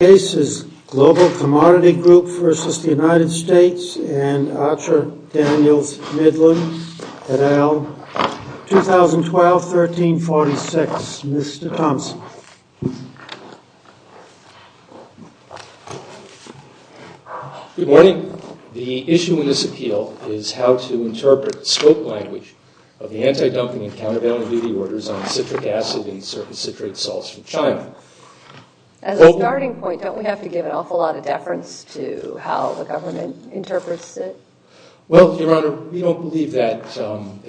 and ARCHER DANIELS MIDLAND, et al., 2012-1346. Mr. Thomson. Good morning. The issue in this appeal is how to interpret the scope language of the anti-dumping and countervailing duty orders on citric acid and surface citrate salts from China. As a starting point, don't we have to give an awful lot of deference to how the government interprets it? Well, Your Honor, we don't believe that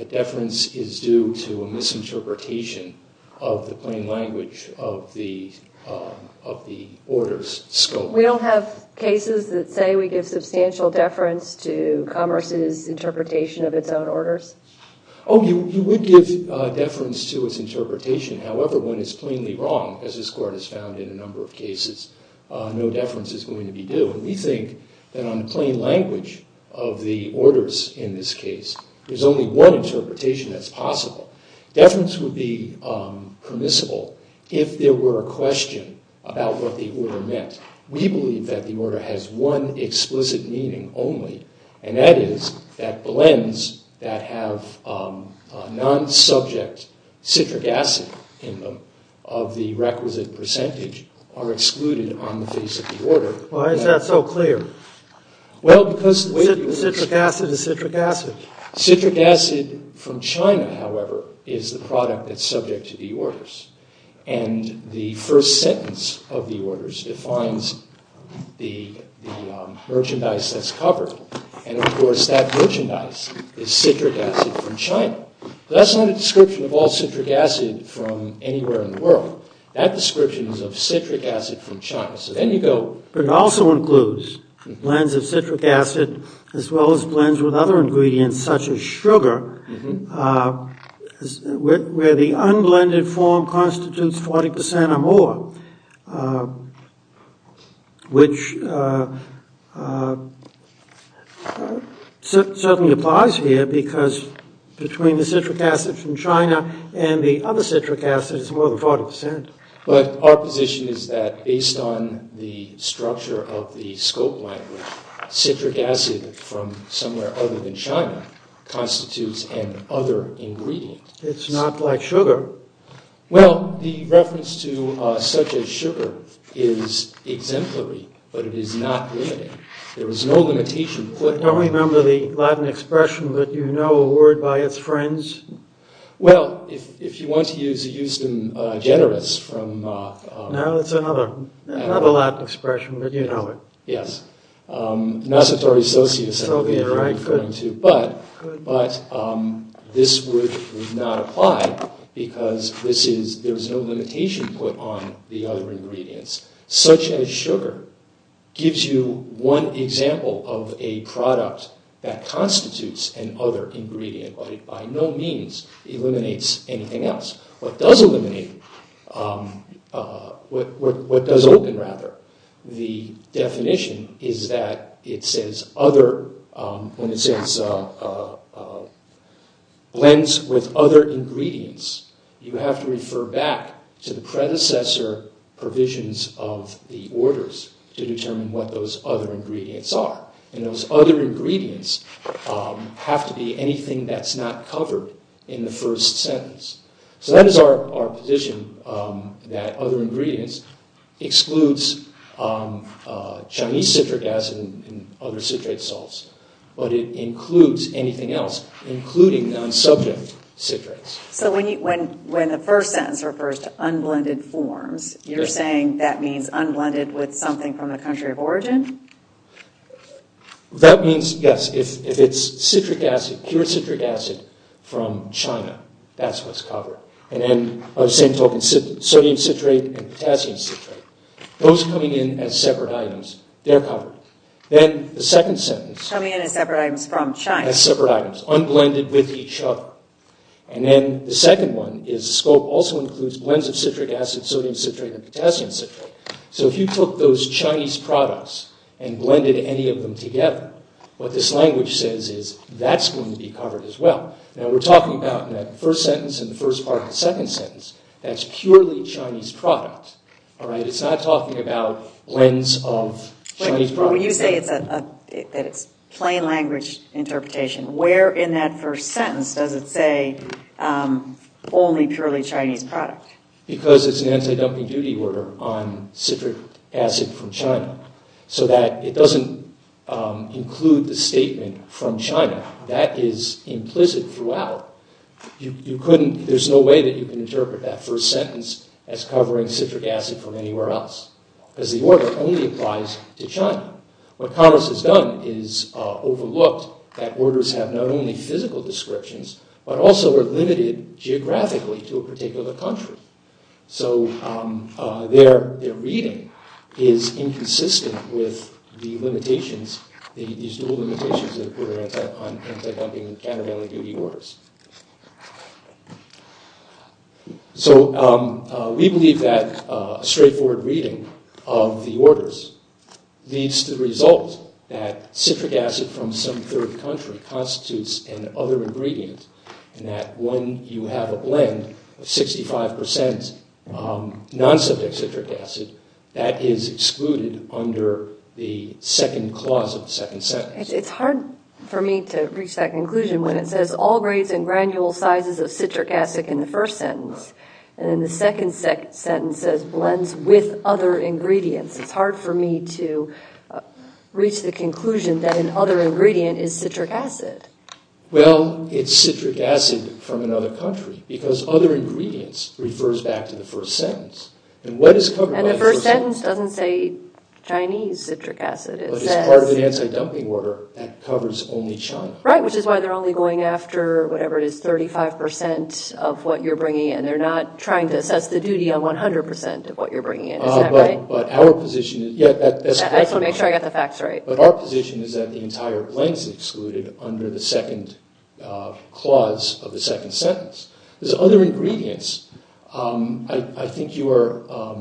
deference is due to a misinterpretation of the plain language of the orders scope. We don't have cases that say we give substantial deference to Commerce's interpretation of its own orders? Oh, you would give deference to its interpretation. However, when it's plainly wrong, as this Court has found in a number of cases, no deference is going to be due. And we think that on the plain language of the orders in this case, there's only one interpretation that's possible. Deference would be permissible if there were a question about what the order meant. We believe that the order has one explicit meaning only, and that is that blends that have non-subject citric acid in them of the requisite percentage are excluded on the face of the order. Why is that so clear? Well, because the citric acid is citric acid. Citric acid from China, however, is the product that's subject to the orders. And the first sentence of the orders defines the merchandise that's covered. And, of course, that merchandise is citric acid from China. That's not a description of all citric acid from anywhere in the world. But it also includes blends of citric acid as well as blends with other ingredients, such as sugar, where the unblended form constitutes 40% or more, which certainly applies here because between the citric acid from China and the other citric acid, it's more than 40%. But our position is that based on the structure of the scope language, citric acid from somewhere other than China constitutes an other ingredient. It's not like sugar. Well, the reference to such as sugar is exemplary, but it is not limiting. There is no limitation. I don't remember the Latin expression, but you know a word by its friends. Well, if you want to use Euston Generous from... No, it's another Latin expression, but you know it. Yes. Nascitore Socius, I believe. But this would not apply because there's no limitation put on the other ingredients. Such as sugar gives you one example of a product that constitutes an other ingredient, but it by no means eliminates anything else. What does eliminate, what does open, rather, the definition is that it says other, when it says blends with other ingredients, you have to refer back to the predecessor provisions of the orders to determine what those other ingredients are. And those other ingredients have to be anything that's not covered in the first sentence. So that is our position, that other ingredients excludes Chinese citric acid and other citrate salts, but it includes anything else, including non-subject citrates. So when the first sentence refers to unblended forms, you're saying that means unblended with something from the country of origin? That means, yes, if it's citric acid, pure citric acid from China, that's what's covered. And then by the same token, sodium citrate and potassium citrate, those coming in as separate items, they're covered. Then the second sentence... Coming in as separate items from China. As separate items, unblended with each other. And then the second one is the scope also includes blends of citric acid, sodium citrate, and potassium citrate. So if you took those Chinese products and blended any of them together, what this language says is that's going to be covered as well. Now, we're talking about that first sentence and the first part of the second sentence. That's purely Chinese product. All right? It's not talking about blends of Chinese product. But when you say that it's plain language interpretation, where in that first sentence does it say only purely Chinese product? Because it's an anti-dumping duty order on citric acid from China. So that it doesn't include the statement from China. That is implicit throughout. You couldn't... There's no way that you can interpret that first sentence as covering citric acid from anywhere else. Because the order only applies to China. What Congress has done is overlooked that orders have not only physical descriptions, but also are limited geographically to a particular country. So their reading is inconsistent with the limitations, these dual limitations that are put on anti-dumping countervailing duty orders. So we believe that straightforward reading of the orders leads to the result that citric acid from some third country constitutes an other ingredient. And that when you have a blend of 65% non-subject citric acid, that is excluded under the second clause of the second sentence. It's hard for me to reach that conclusion when it says all grades and granule sizes of citric acid in the first sentence. And then the second sentence says blends with other ingredients. It's hard for me to reach the conclusion that an other ingredient is citric acid. Well, it's citric acid from another country. Because other ingredients refers back to the first sentence. And the first sentence doesn't say Chinese citric acid. But it's part of the anti-dumping order that covers only China. Right, which is why they're only going after whatever it is, 35% of what you're bringing in. They're not trying to assess the duty on 100% of what you're bringing in. Is that right? But our position is that the entire blend is excluded under the second clause of the second sentence. There's other ingredients. I think you are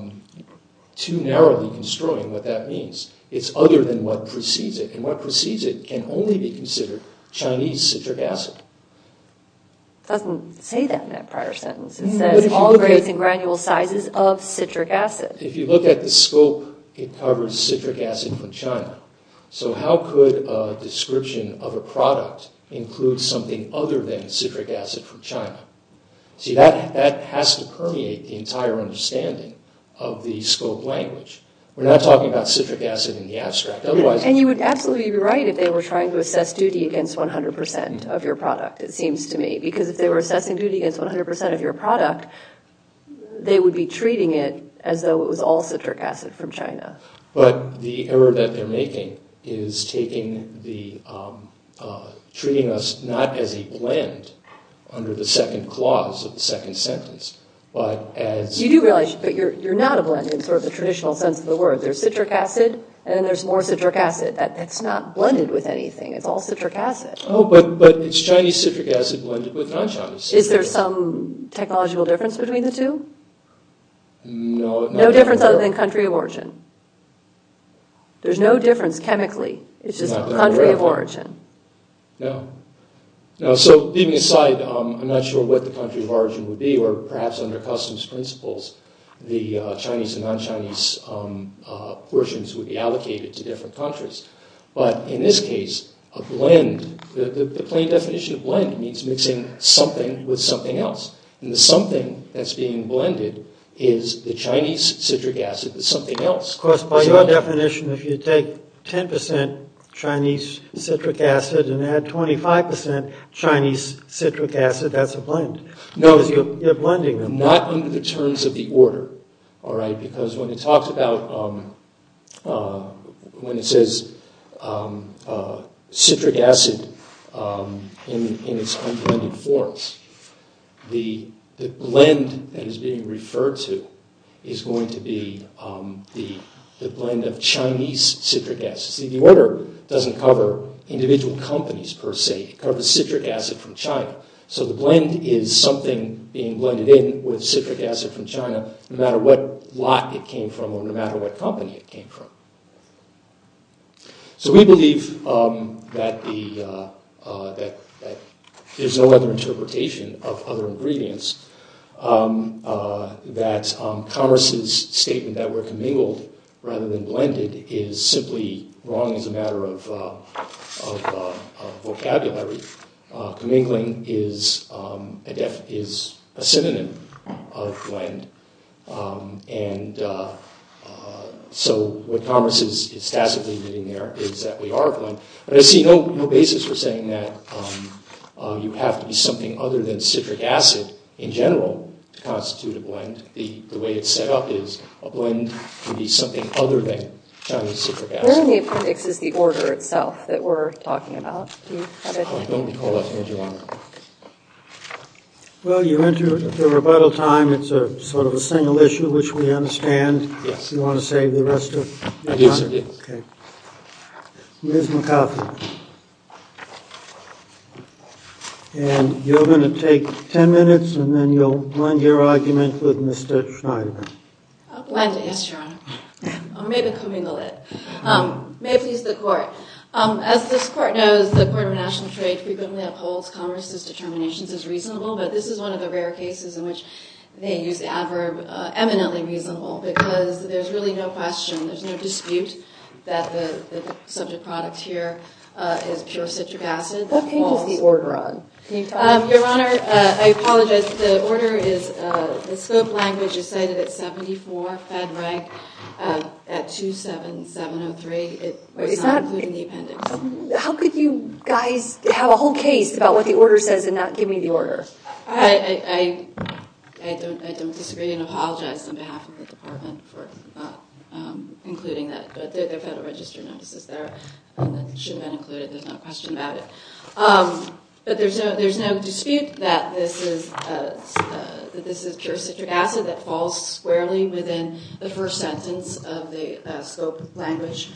too narrowly construing what that means. It's other than what precedes it. And what precedes it can only be considered Chinese citric acid. It doesn't say that in that prior sentence. It says all grades and granule sizes of citric acid. If you look at the scope, it covers citric acid from China. So how could a description of a product include something other than citric acid from China? See, that has to permeate the entire understanding of the scope language. We're not talking about citric acid in the abstract. And you would absolutely be right if they were trying to assess duty against 100% of your product, it seems to me. Because if they were assessing duty against 100% of your product, they would be treating it as though it was all citric acid from China. But the error that they're making is treating us not as a blend under the second clause of the second sentence. You do realize, but you're not a blend in sort of the traditional sense of the word. There's citric acid, and then there's more citric acid. That's not blended with anything. It's all citric acid. Oh, but it's Chinese citric acid blended with non-Chinese. Is there some technological difference between the two? No. No difference other than country of origin. There's no difference chemically. It's just country of origin. No. So, leaving aside, I'm not sure what the country of origin would be, or perhaps under customs principles, the Chinese and non-Chinese portions would be allocated to different countries. But in this case, a blend, the plain definition of blend means mixing something with something else. And the something that's being blended is the Chinese citric acid with something else. Of course, by your definition, if you take 10% Chinese citric acid and add 25% Chinese citric acid, that's a blend. No. Because you're blending them. Not in the terms of the order. Because when it talks about, when it says citric acid in its unblended forms, the blend that is being referred to is going to be the blend of Chinese citric acid. See, the order doesn't cover individual companies, per se. It covers citric acid from China. So the blend is something being blended in with citric acid from China, no matter what lot it came from or no matter what company it came from. So we believe that there's no other interpretation of other ingredients, that commerce's statement that we're commingled rather than blended is simply wrong as a matter of vocabulary. Commingling is a synonym of blend. And so what commerce is statically admitting there is that we are a blend. But I see no basis for saying that you have to be something other than citric acid in general to constitute a blend. The way it's set up is a blend can be something other than Chinese citric acid. Where in the appendix is the order itself that we're talking about? Well, you entered the rebuttal time. It's a sort of a single issue, which we understand. Yes. You want to save the rest of the time? Yes, sir. Okay. Ms. McAuliffe. And you're going to take 10 minutes, and then you'll blend your argument with Mr. Schneider. I'll blend it, yes, Your Honor. Or maybe commingle it. May it please the Court. As this Court knows, the Court of International Trade frequently upholds commerce's determinations as reasonable, but this is one of the rare cases in which they use the adverb eminently reasonable because there's really no question, there's no dispute that the subject product here is pure citric acid. What page is the order on? Your Honor, I apologize. The order is the scope language is cited at 74, Fed rank at 27703. It was not included in the appendix. How could you guys have a whole case about what the order says and not give me the order? I don't disagree and apologize on behalf of the Department for not including that. But there are Federal Register notices there that should have been included. There's no question about it. But there's no dispute that this is pure citric acid that falls squarely within the first sentence of the scope language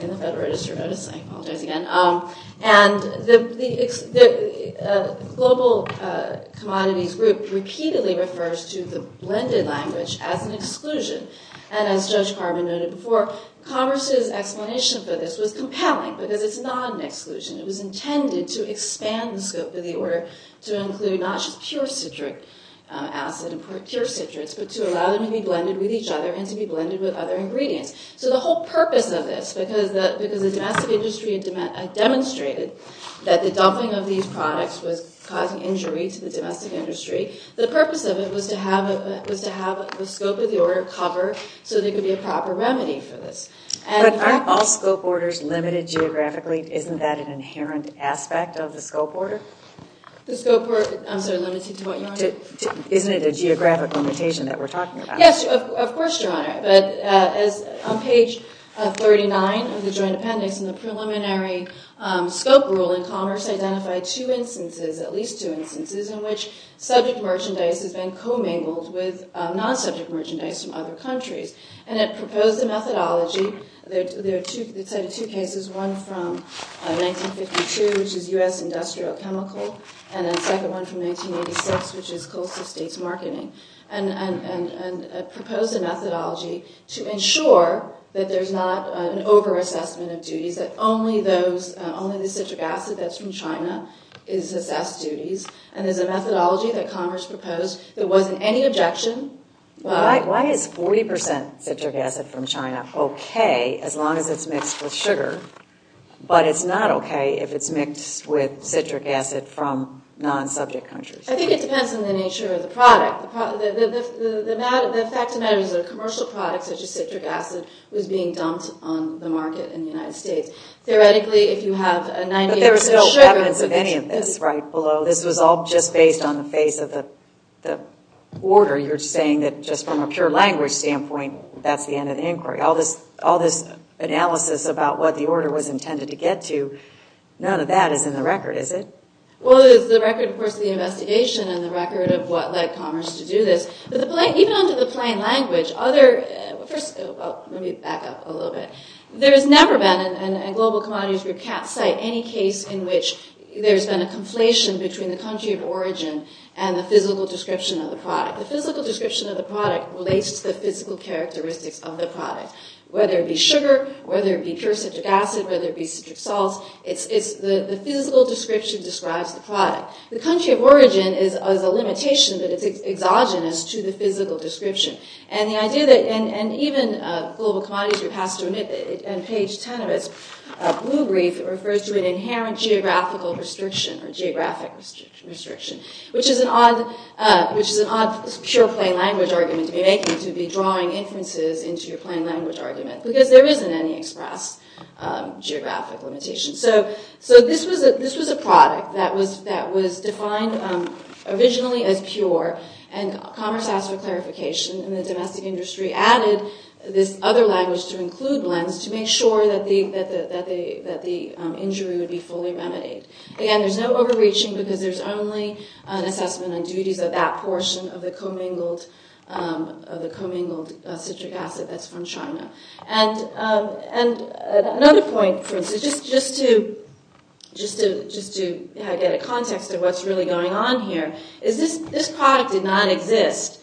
in the Federal Register notice. I apologize again. And the global commodities group repeatedly refers to the blended language as an exclusion. And as Judge Carvin noted before, commerce's explanation for this was compelling because it's not an exclusion. It was intended to expand the scope of the order to include not just pure citric acid and pure citrates, but to allow them to be blended with each other and to be blended with other ingredients. So the whole purpose of this, because the domestic industry demonstrated that the dumping of these products was causing injury to the domestic industry, the purpose of it was to have the scope of the order cover so there could be a proper remedy for this. But aren't all scope orders limited geographically? Isn't that an inherent aspect of the scope order? The scope order, I'm sorry, limited to what, Your Honor? Isn't it a geographic limitation that we're talking about? Yes, of course, Your Honor. But on page 39 of the Joint Appendix in the preliminary scope rule, commerce identified two instances, at least two instances, in which subject merchandise has been commingled with non-subject merchandise from other countries. And it proposed a methodology. They cited two cases, one from 1952, which is U.S. industrial chemical, and a second one from 1986, which is coastal states marketing, and proposed a methodology to ensure that there's not an overassessment of duties, that only the citric acid that's from China is assessed duties. And there's a methodology that commerce proposed that wasn't any objection. Why is 40% citric acid from China okay as long as it's mixed with sugar, but it's not okay if it's mixed with citric acid from non-subject countries? I think it depends on the nature of the product. The fact of the matter is that a commercial product such as citric acid was being dumped on the market in the United States. Theoretically, if you have a 98% sugar. But there was no evidence of any of this right below. This was all just based on the face of the order. You're saying that just from a pure language standpoint, that's the end of the inquiry. All this analysis about what the order was intended to get to, none of that is in the record, is it? Well, there's the record, of course, of the investigation and the record of what led commerce to do this. But even under the plain language, other – first, let me back up a little bit. There has never been, in global commodities, we can't cite any case in which there's been a conflation between the country of origin and the physical description of the product. The physical description of the product relates to the physical characteristics of the product. Whether it be sugar, whether it be pure citric acid, whether it be citric salt, it's the physical description describes the product. The country of origin is a limitation, but it's exogenous to the physical description. And the idea that – and even global commodities, and page 10 of its blue brief refers to an inherent geographical restriction or geographic restriction, which is an odd pure plain language argument to be making, to be drawing inferences into your plain language argument, because there isn't any express geographic limitation. So this was a product that was defined originally as pure, and commerce asked for clarification, and the domestic industry added this other language to include blends to make sure that the injury would be fully remedied. Again, there's no overreaching because there's only an assessment and duties of that portion of the commingled citric acid that's from China. And another point, for instance, just to get a context of what's really going on here, is this product did not exist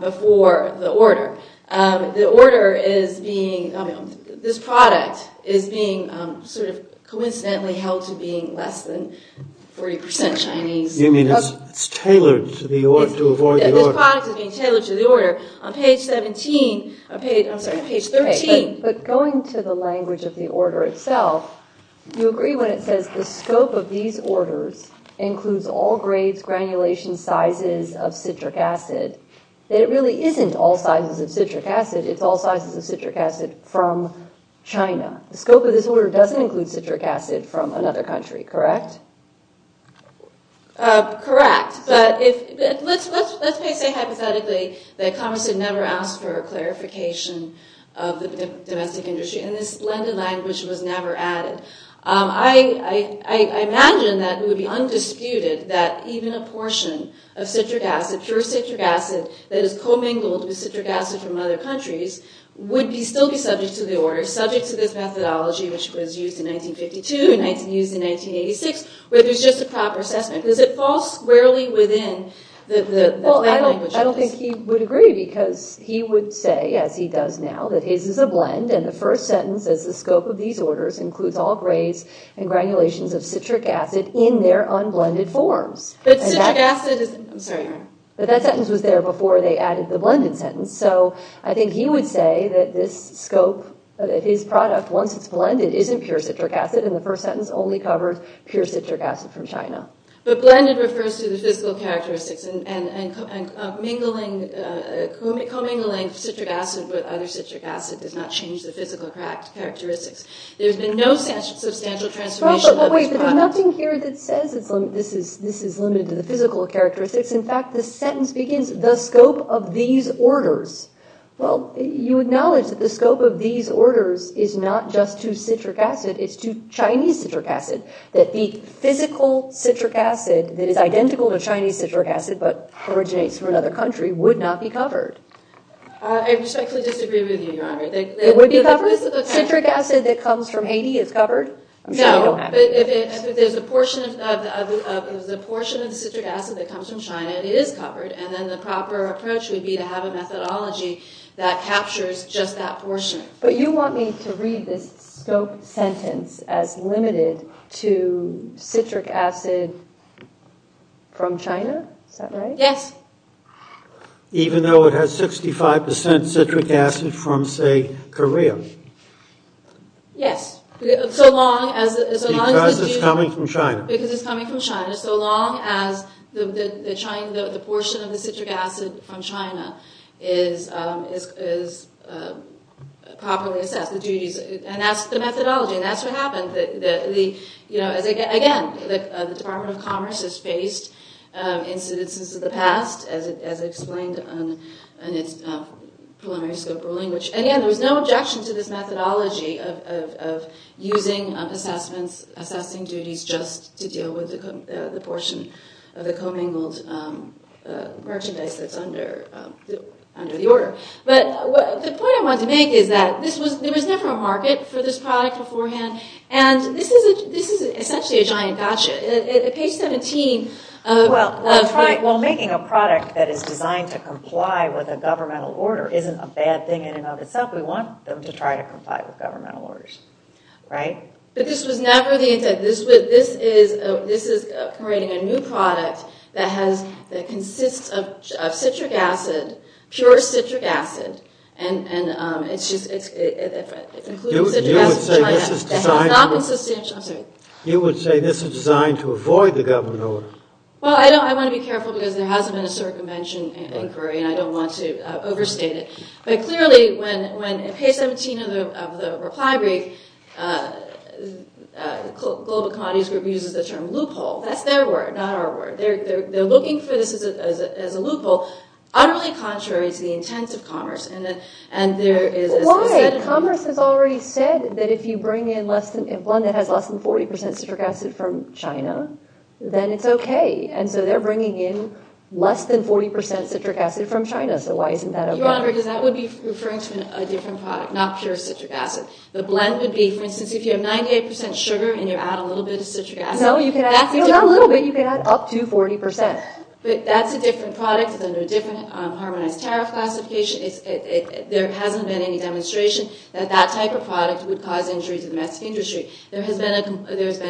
before the order. The order is being – this product is being sort of coincidentally held to being less than 40 percent Chinese. You mean it's tailored to avoid the order? This product is being tailored to the order. On page 17 – I'm sorry, page 13. But going to the language of the order itself, you agree when it says the scope of these orders includes all grades, granulations, sizes of citric acid, that it really isn't all sizes of citric acid. It's all sizes of citric acid from China. The scope of this order doesn't include citric acid from another country, correct? Correct. But let's say hypothetically that commerce had never asked for a clarification of the domestic industry, and this blended language was never added. I imagine that it would be undisputed that even a portion of citric acid, pure citric acid that is commingled with citric acid from other countries, would still be subject to the order, subject to this methodology, which was used in 1952 and used in 1986, where there's just a proper assessment. Does it fall squarely within the blended language? Well, I don't think he would agree because he would say, as he does now, that his is a blend and the first sentence says the scope of these orders includes all grades and granulations of citric acid in their unblended forms. But citric acid is- I'm sorry. But that sentence was there before they added the blended sentence, so I think he would say that this scope, that his product, once it's blended, isn't pure citric acid, and the first sentence only covers pure citric acid from China. But blended refers to the physical characteristics, and commingling citric acid with other citric acid does not change the physical characteristics. There's been no substantial transformation of this product. Well, but wait. There's nothing here that says this is limited to the physical characteristics. In fact, the sentence begins, the scope of these orders. Well, you acknowledge that the scope of these orders is not just to citric acid. It's to Chinese citric acid, that the physical citric acid that is identical to Chinese citric acid but originates from another country would not be covered. I respectfully disagree with you, Your Honor. It would be covered? The citric acid that comes from Haiti is covered? No, but if there's a portion of the citric acid that comes from China, it is covered, and then the proper approach would be to have a methodology that captures just that portion. But you want me to read this scope sentence as limited to citric acid from China? Is that right? Yes. Even though it has 65% citric acid from, say, Korea? Yes. Because it's coming from China. Because it's coming from China, so long as the portion of the citric acid from China is properly assessed. And that's the methodology, and that's what happened. Again, the Department of Commerce has faced incidences of the past, as explained in its preliminary scope ruling. Again, there was no objection to this methodology of using assessments, assessing duties just to deal with the portion of the commingled merchandise that's under the order. But the point I want to make is that there was never a market for this product beforehand, and this is essentially a giant gotcha. At page 17 of the- Well, making a product that is designed to comply with a governmental order isn't a bad thing in and of itself. We want them to try to comply with governmental orders, right? But this was never the intent. This is creating a new product that consists of citric acid, pure citric acid, including citric acid from China. You would say this is designed to avoid the governmental order? Well, I want to be careful, because there hasn't been a circumvention inquiry, and I don't want to overstate it. But clearly, at page 17 of the reply brief, Global Commodities Group uses the term loophole. That's their word, not our word. They're looking for this as a loophole. Utterly contrary to the intent of commerce. Why? Commerce has already said that if you bring in a blend that has less than 40% citric acid from China, then it's okay. And so they're bringing in less than 40% citric acid from China, so why isn't that okay? Your Honor, because that would be referring to a different product, not pure citric acid. The blend would be, for instance, if you have 98% sugar and you add a little bit of citric acid- No, you can add- No, not a little bit. You can add up to 40%. But that's a different product. It's under a different harmonized tariff classification. There hasn't been any demonstration that that type of product would cause injury to the domestic industry. There has been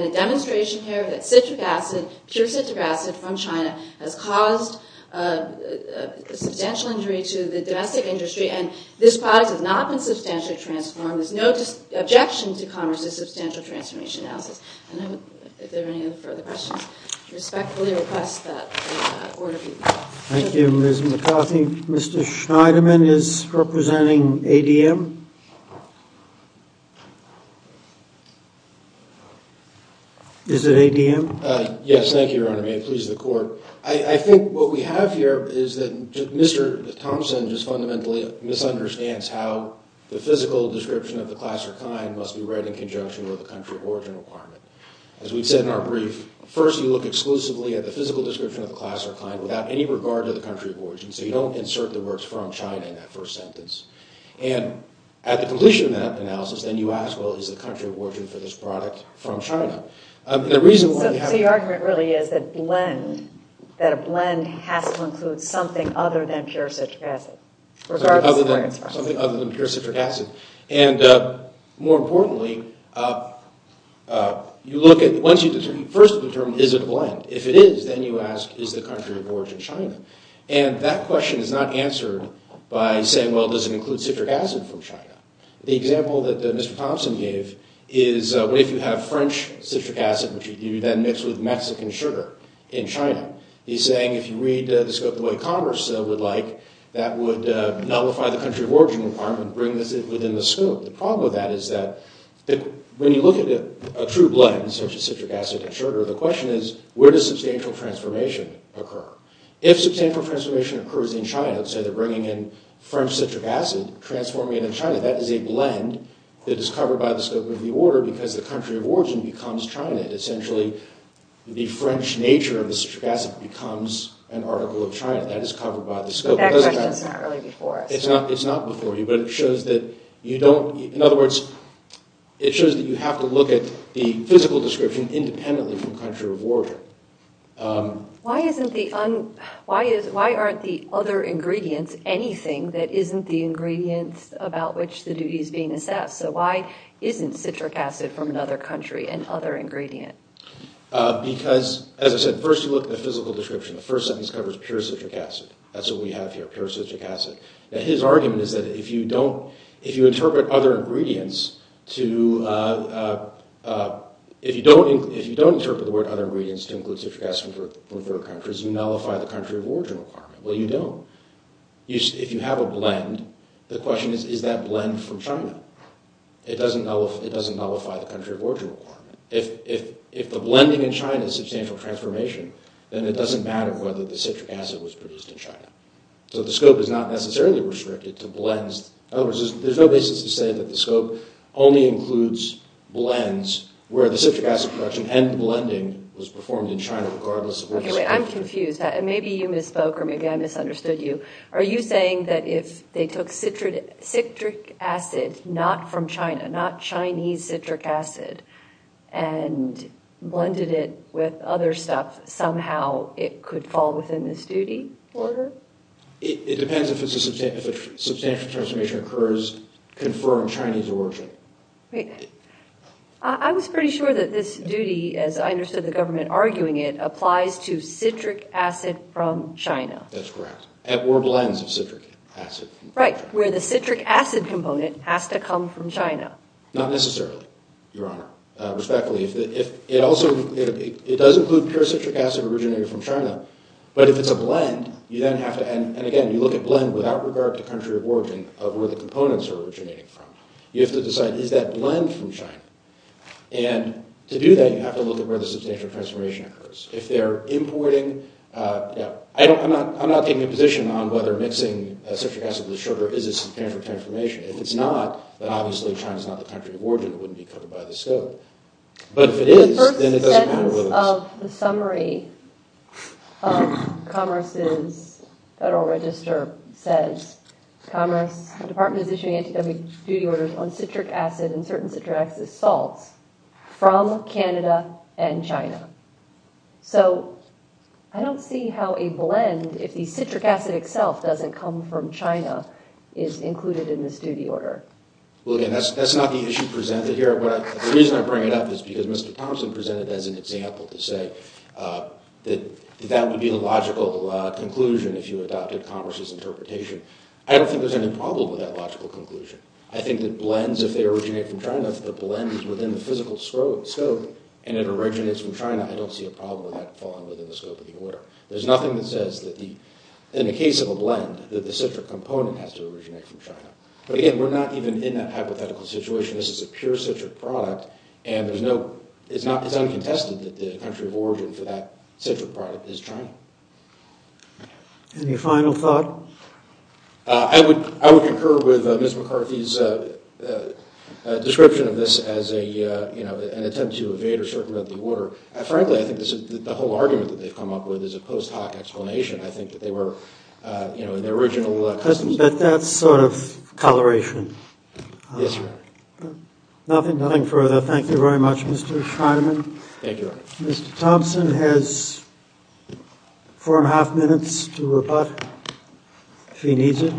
a demonstration here that citric acid, pure citric acid from China, has caused substantial injury to the domestic industry, and this product has not been substantially transformed. There's no objection to commerce's substantial transformation analysis. I don't know if there are any other further questions. I respectfully request that order be- Thank you, Ms. McCarthy. Mr. Schneiderman is representing ADM. Is it ADM? Yes, thank you, Your Honor. May it please the Court. I think what we have here is that Mr. Thompson just fundamentally misunderstands how the physical description of the class or kind must be read in conjunction with a country of origin requirement. As we've said in our brief, first you look exclusively at the physical description of the class or kind without any regard to the country of origin, so you don't insert the words from China in that first sentence. And at the completion of that analysis, then you ask, well, is the country of origin for this product from China? So your argument really is that a blend has to include something other than pure citric acid, regardless of where it's from. Something other than pure citric acid. And more importantly, you look at- Once you first determine, is it a blend? If it is, then you ask, is the country of origin China? And that question is not answered by saying, well, does it include citric acid from China? The example that Mr. Thompson gave is, what if you have French citric acid, which you then mix with Mexican sugar in China? He's saying if you read the scope of the way Congress would like, that would nullify the country of origin requirement, bring this within the scope. The problem with that is that when you look at a true blend, such as citric acid and sugar, the question is, where does substantial transformation occur? If substantial transformation occurs in China, say they're bringing in French citric acid, transforming it in China, that is a blend that is covered by the scope of the order because the country of origin becomes China. Essentially, the French nature of the citric acid becomes an article of China. That is covered by the scope. That question's not really before us. It's not before you, but it shows that you don't— in other words, it shows that you have to look at the physical description independently from country of origin. Why aren't the other ingredients anything that isn't the ingredients about which the duty is being assessed? So why isn't citric acid from another country an other ingredient? Because, as I said, first you look at the physical description. The first sentence covers pure citric acid. That's what we have here, pure citric acid. Now his argument is that if you don't— if you interpret other ingredients to— if you don't interpret the word other ingredients to include citric acid from third countries, you nullify the country of origin requirement. Well, you don't. If you have a blend, the question is, is that blend from China? It doesn't nullify the country of origin requirement. If the blending in China is substantial transformation, then it doesn't matter whether the citric acid was produced in China. So the scope is not necessarily restricted to blends. In other words, there's no basis to say that the scope only includes blends where the citric acid production and the blending was performed in China, regardless of where the scope is. Okay, wait, I'm confused. Maybe you misspoke or maybe I misunderstood you. Are you saying that if they took citric acid not from China, not Chinese citric acid, and blended it with other stuff, somehow it could fall within this duty order? It depends. If a substantial transformation occurs, confirm Chinese origin. I was pretty sure that this duty, as I understood the government arguing it, applies to citric acid from China. That's correct. Or blends of citric acid. Right, where the citric acid component has to come from China. Not necessarily, Your Honor, respectfully. It does include pure citric acid originated from China, but if it's a blend, you then have to, and again, you look at blend without regard to country of origin of where the components are originating from. You have to decide, is that blend from China? And to do that, you have to look at where the substantial transformation occurs. If they're importing – I'm not taking a position on whether mixing citric acid with sugar is a substantial transformation. If it's not, then obviously China's not the country of origin. It wouldn't be covered by the scope. But if it is, then it doesn't matter whether it's – The first sentence of the summary of Commerce's Federal Register says, Commerce Department is issuing anti-duty orders on citric acid and certain citric acid salts from Canada and China. So I don't see how a blend, if the citric acid itself doesn't come from China, is included in this duty order. Well, again, that's not the issue presented here. The reason I bring it up is because Mr. Thompson presented it as an example to say that that would be the logical conclusion if you adopted Commerce's interpretation. I don't think there's any problem with that logical conclusion. I think that blends, if they originate from China, the blend is within the physical scope, and it originates from China, I don't see a problem with that falling within the scope of the order. There's nothing that says that the – in the case of a blend, that the citric component has to originate from China. But again, we're not even in that hypothetical situation. This is a pure citric product, and there's no – it's uncontested that the country of origin for that citric product is China. Any final thought? I would concur with Ms. McCarthy's description of this as an attempt to evade or circumvent the order. Frankly, I think the whole argument that they've come up with is a post-hoc explanation. I think that they were in their original customs. But that's sort of coloration. Yes, Your Honor. Nothing further. Thank you very much, Mr. Scheinman. Thank you, Your Honor. Mr. Thompson has four and a half minutes to rebut if he needs it.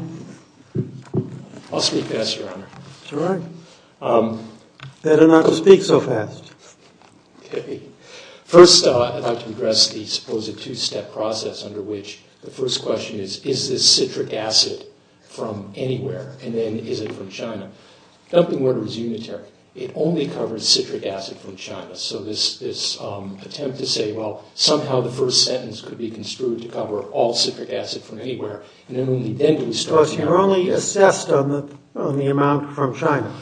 I'll speak past Your Honor. All right. Better not to speak so fast. Okay. First, I'd like to address the supposed two-step process under which the first question is, is this citric acid from anywhere? And then, is it from China? The dumping order is unitary. It only covers citric acid from China. So this attempt to say, well, somehow the first sentence could be construed to cover all citric acid from anywhere, and then only then can we start to – Because you're only assessed on the amount from China.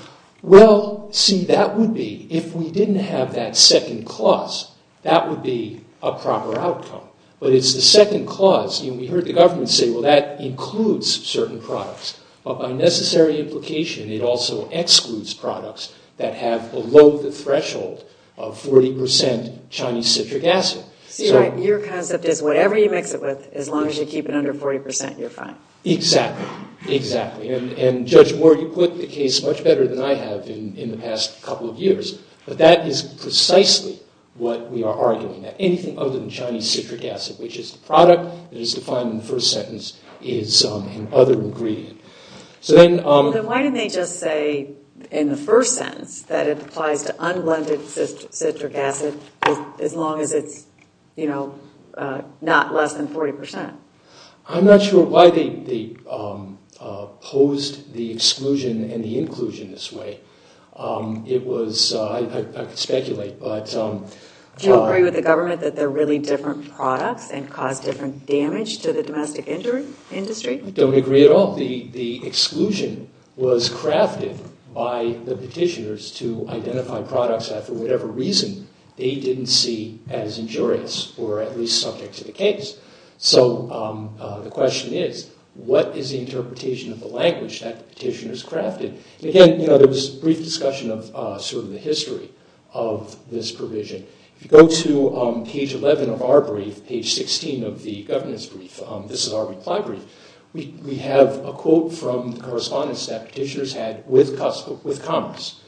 Well, see, that would be – if we didn't have that second clause, that would be a proper outcome. But it's the second clause, and we heard the government say, well, that includes certain products. But by necessary implication, it also excludes products that have below the threshold of 40 percent Chinese citric acid. See, your concept is whatever you mix it with, as long as you keep it under 40 percent, you're fine. Exactly, exactly. And Judge Moore, you put the case much better than I have in the past couple of years. But that is precisely what we are arguing, that anything other than Chinese citric acid, which is the product that is defined in the first sentence, is an other ingredient. So then – Then why didn't they just say in the first sentence that it applies to unblended citric acid as long as it's, you know, not less than 40 percent? I'm not sure why they posed the exclusion and the inclusion this way. It was – I could speculate, but – Do you agree with the government that they're really different products and cause different damage to the domestic industry? I don't agree at all. The exclusion was crafted by the petitioners to identify products that, for whatever reason, they didn't see as injurious, or at least subject to the case. So the question is, what is the interpretation of the language that the petitioners crafted? Again, you know, there was brief discussion of sort of the history of this provision. If you go to page 11 of our brief, page 16 of the governance brief, this is our reply brief, we have a quote from the correspondence that petitioners had with Commerce.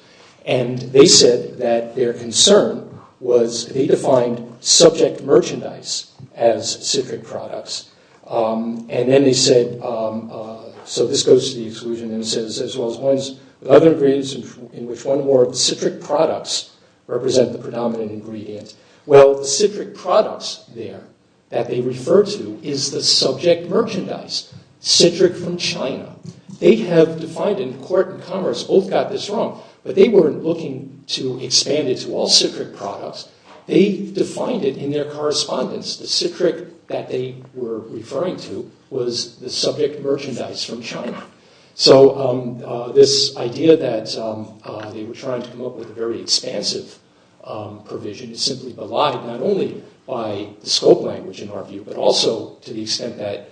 And they said that their concern was that they defined subject merchandise as citric products. And then they said – so this goes to the exclusion and says, as well as ones with other ingredients in which one or more of the citric products represent the predominant ingredient. Well, the citric products there that they refer to is the subject merchandise, citric from China. They have defined in court and Commerce both got this wrong, but they weren't looking to expand it to all citric products. They defined it in their correspondence. The citric that they were referring to was the subject merchandise from China. So this idea that they were trying to come up with a very expansive provision is simply belied not only by the scope language in our view, but also to the extent that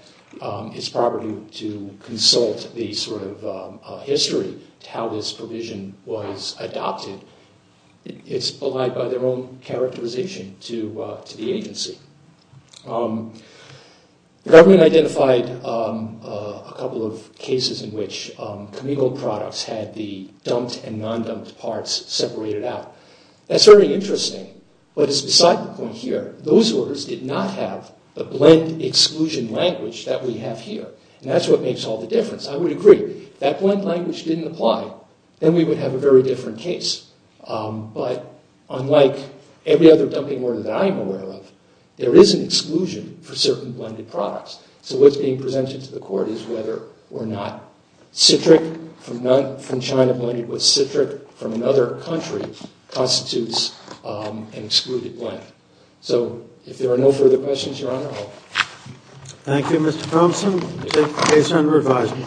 it's proper to consult the sort of history to how this provision was adopted. It's belied by their own characterization to the agency. The government identified a couple of cases in which chemical products had the dumped and non-dumped parts separated out. That's very interesting, but it's beside the point here. Those orders did not have the blend exclusion language that we have here. And that's what makes all the difference. I would agree. If that blend language didn't apply, then we would have a very different case. But unlike every other dumping order that I am aware of, there is an exclusion for certain blended products. So what's being presented to the court is whether or not citric from China blended with citric from another country constitutes an excluded blend. So if there are no further questions, Your Honor, I'll... Thank you, Mr. Thompson. Case under revision.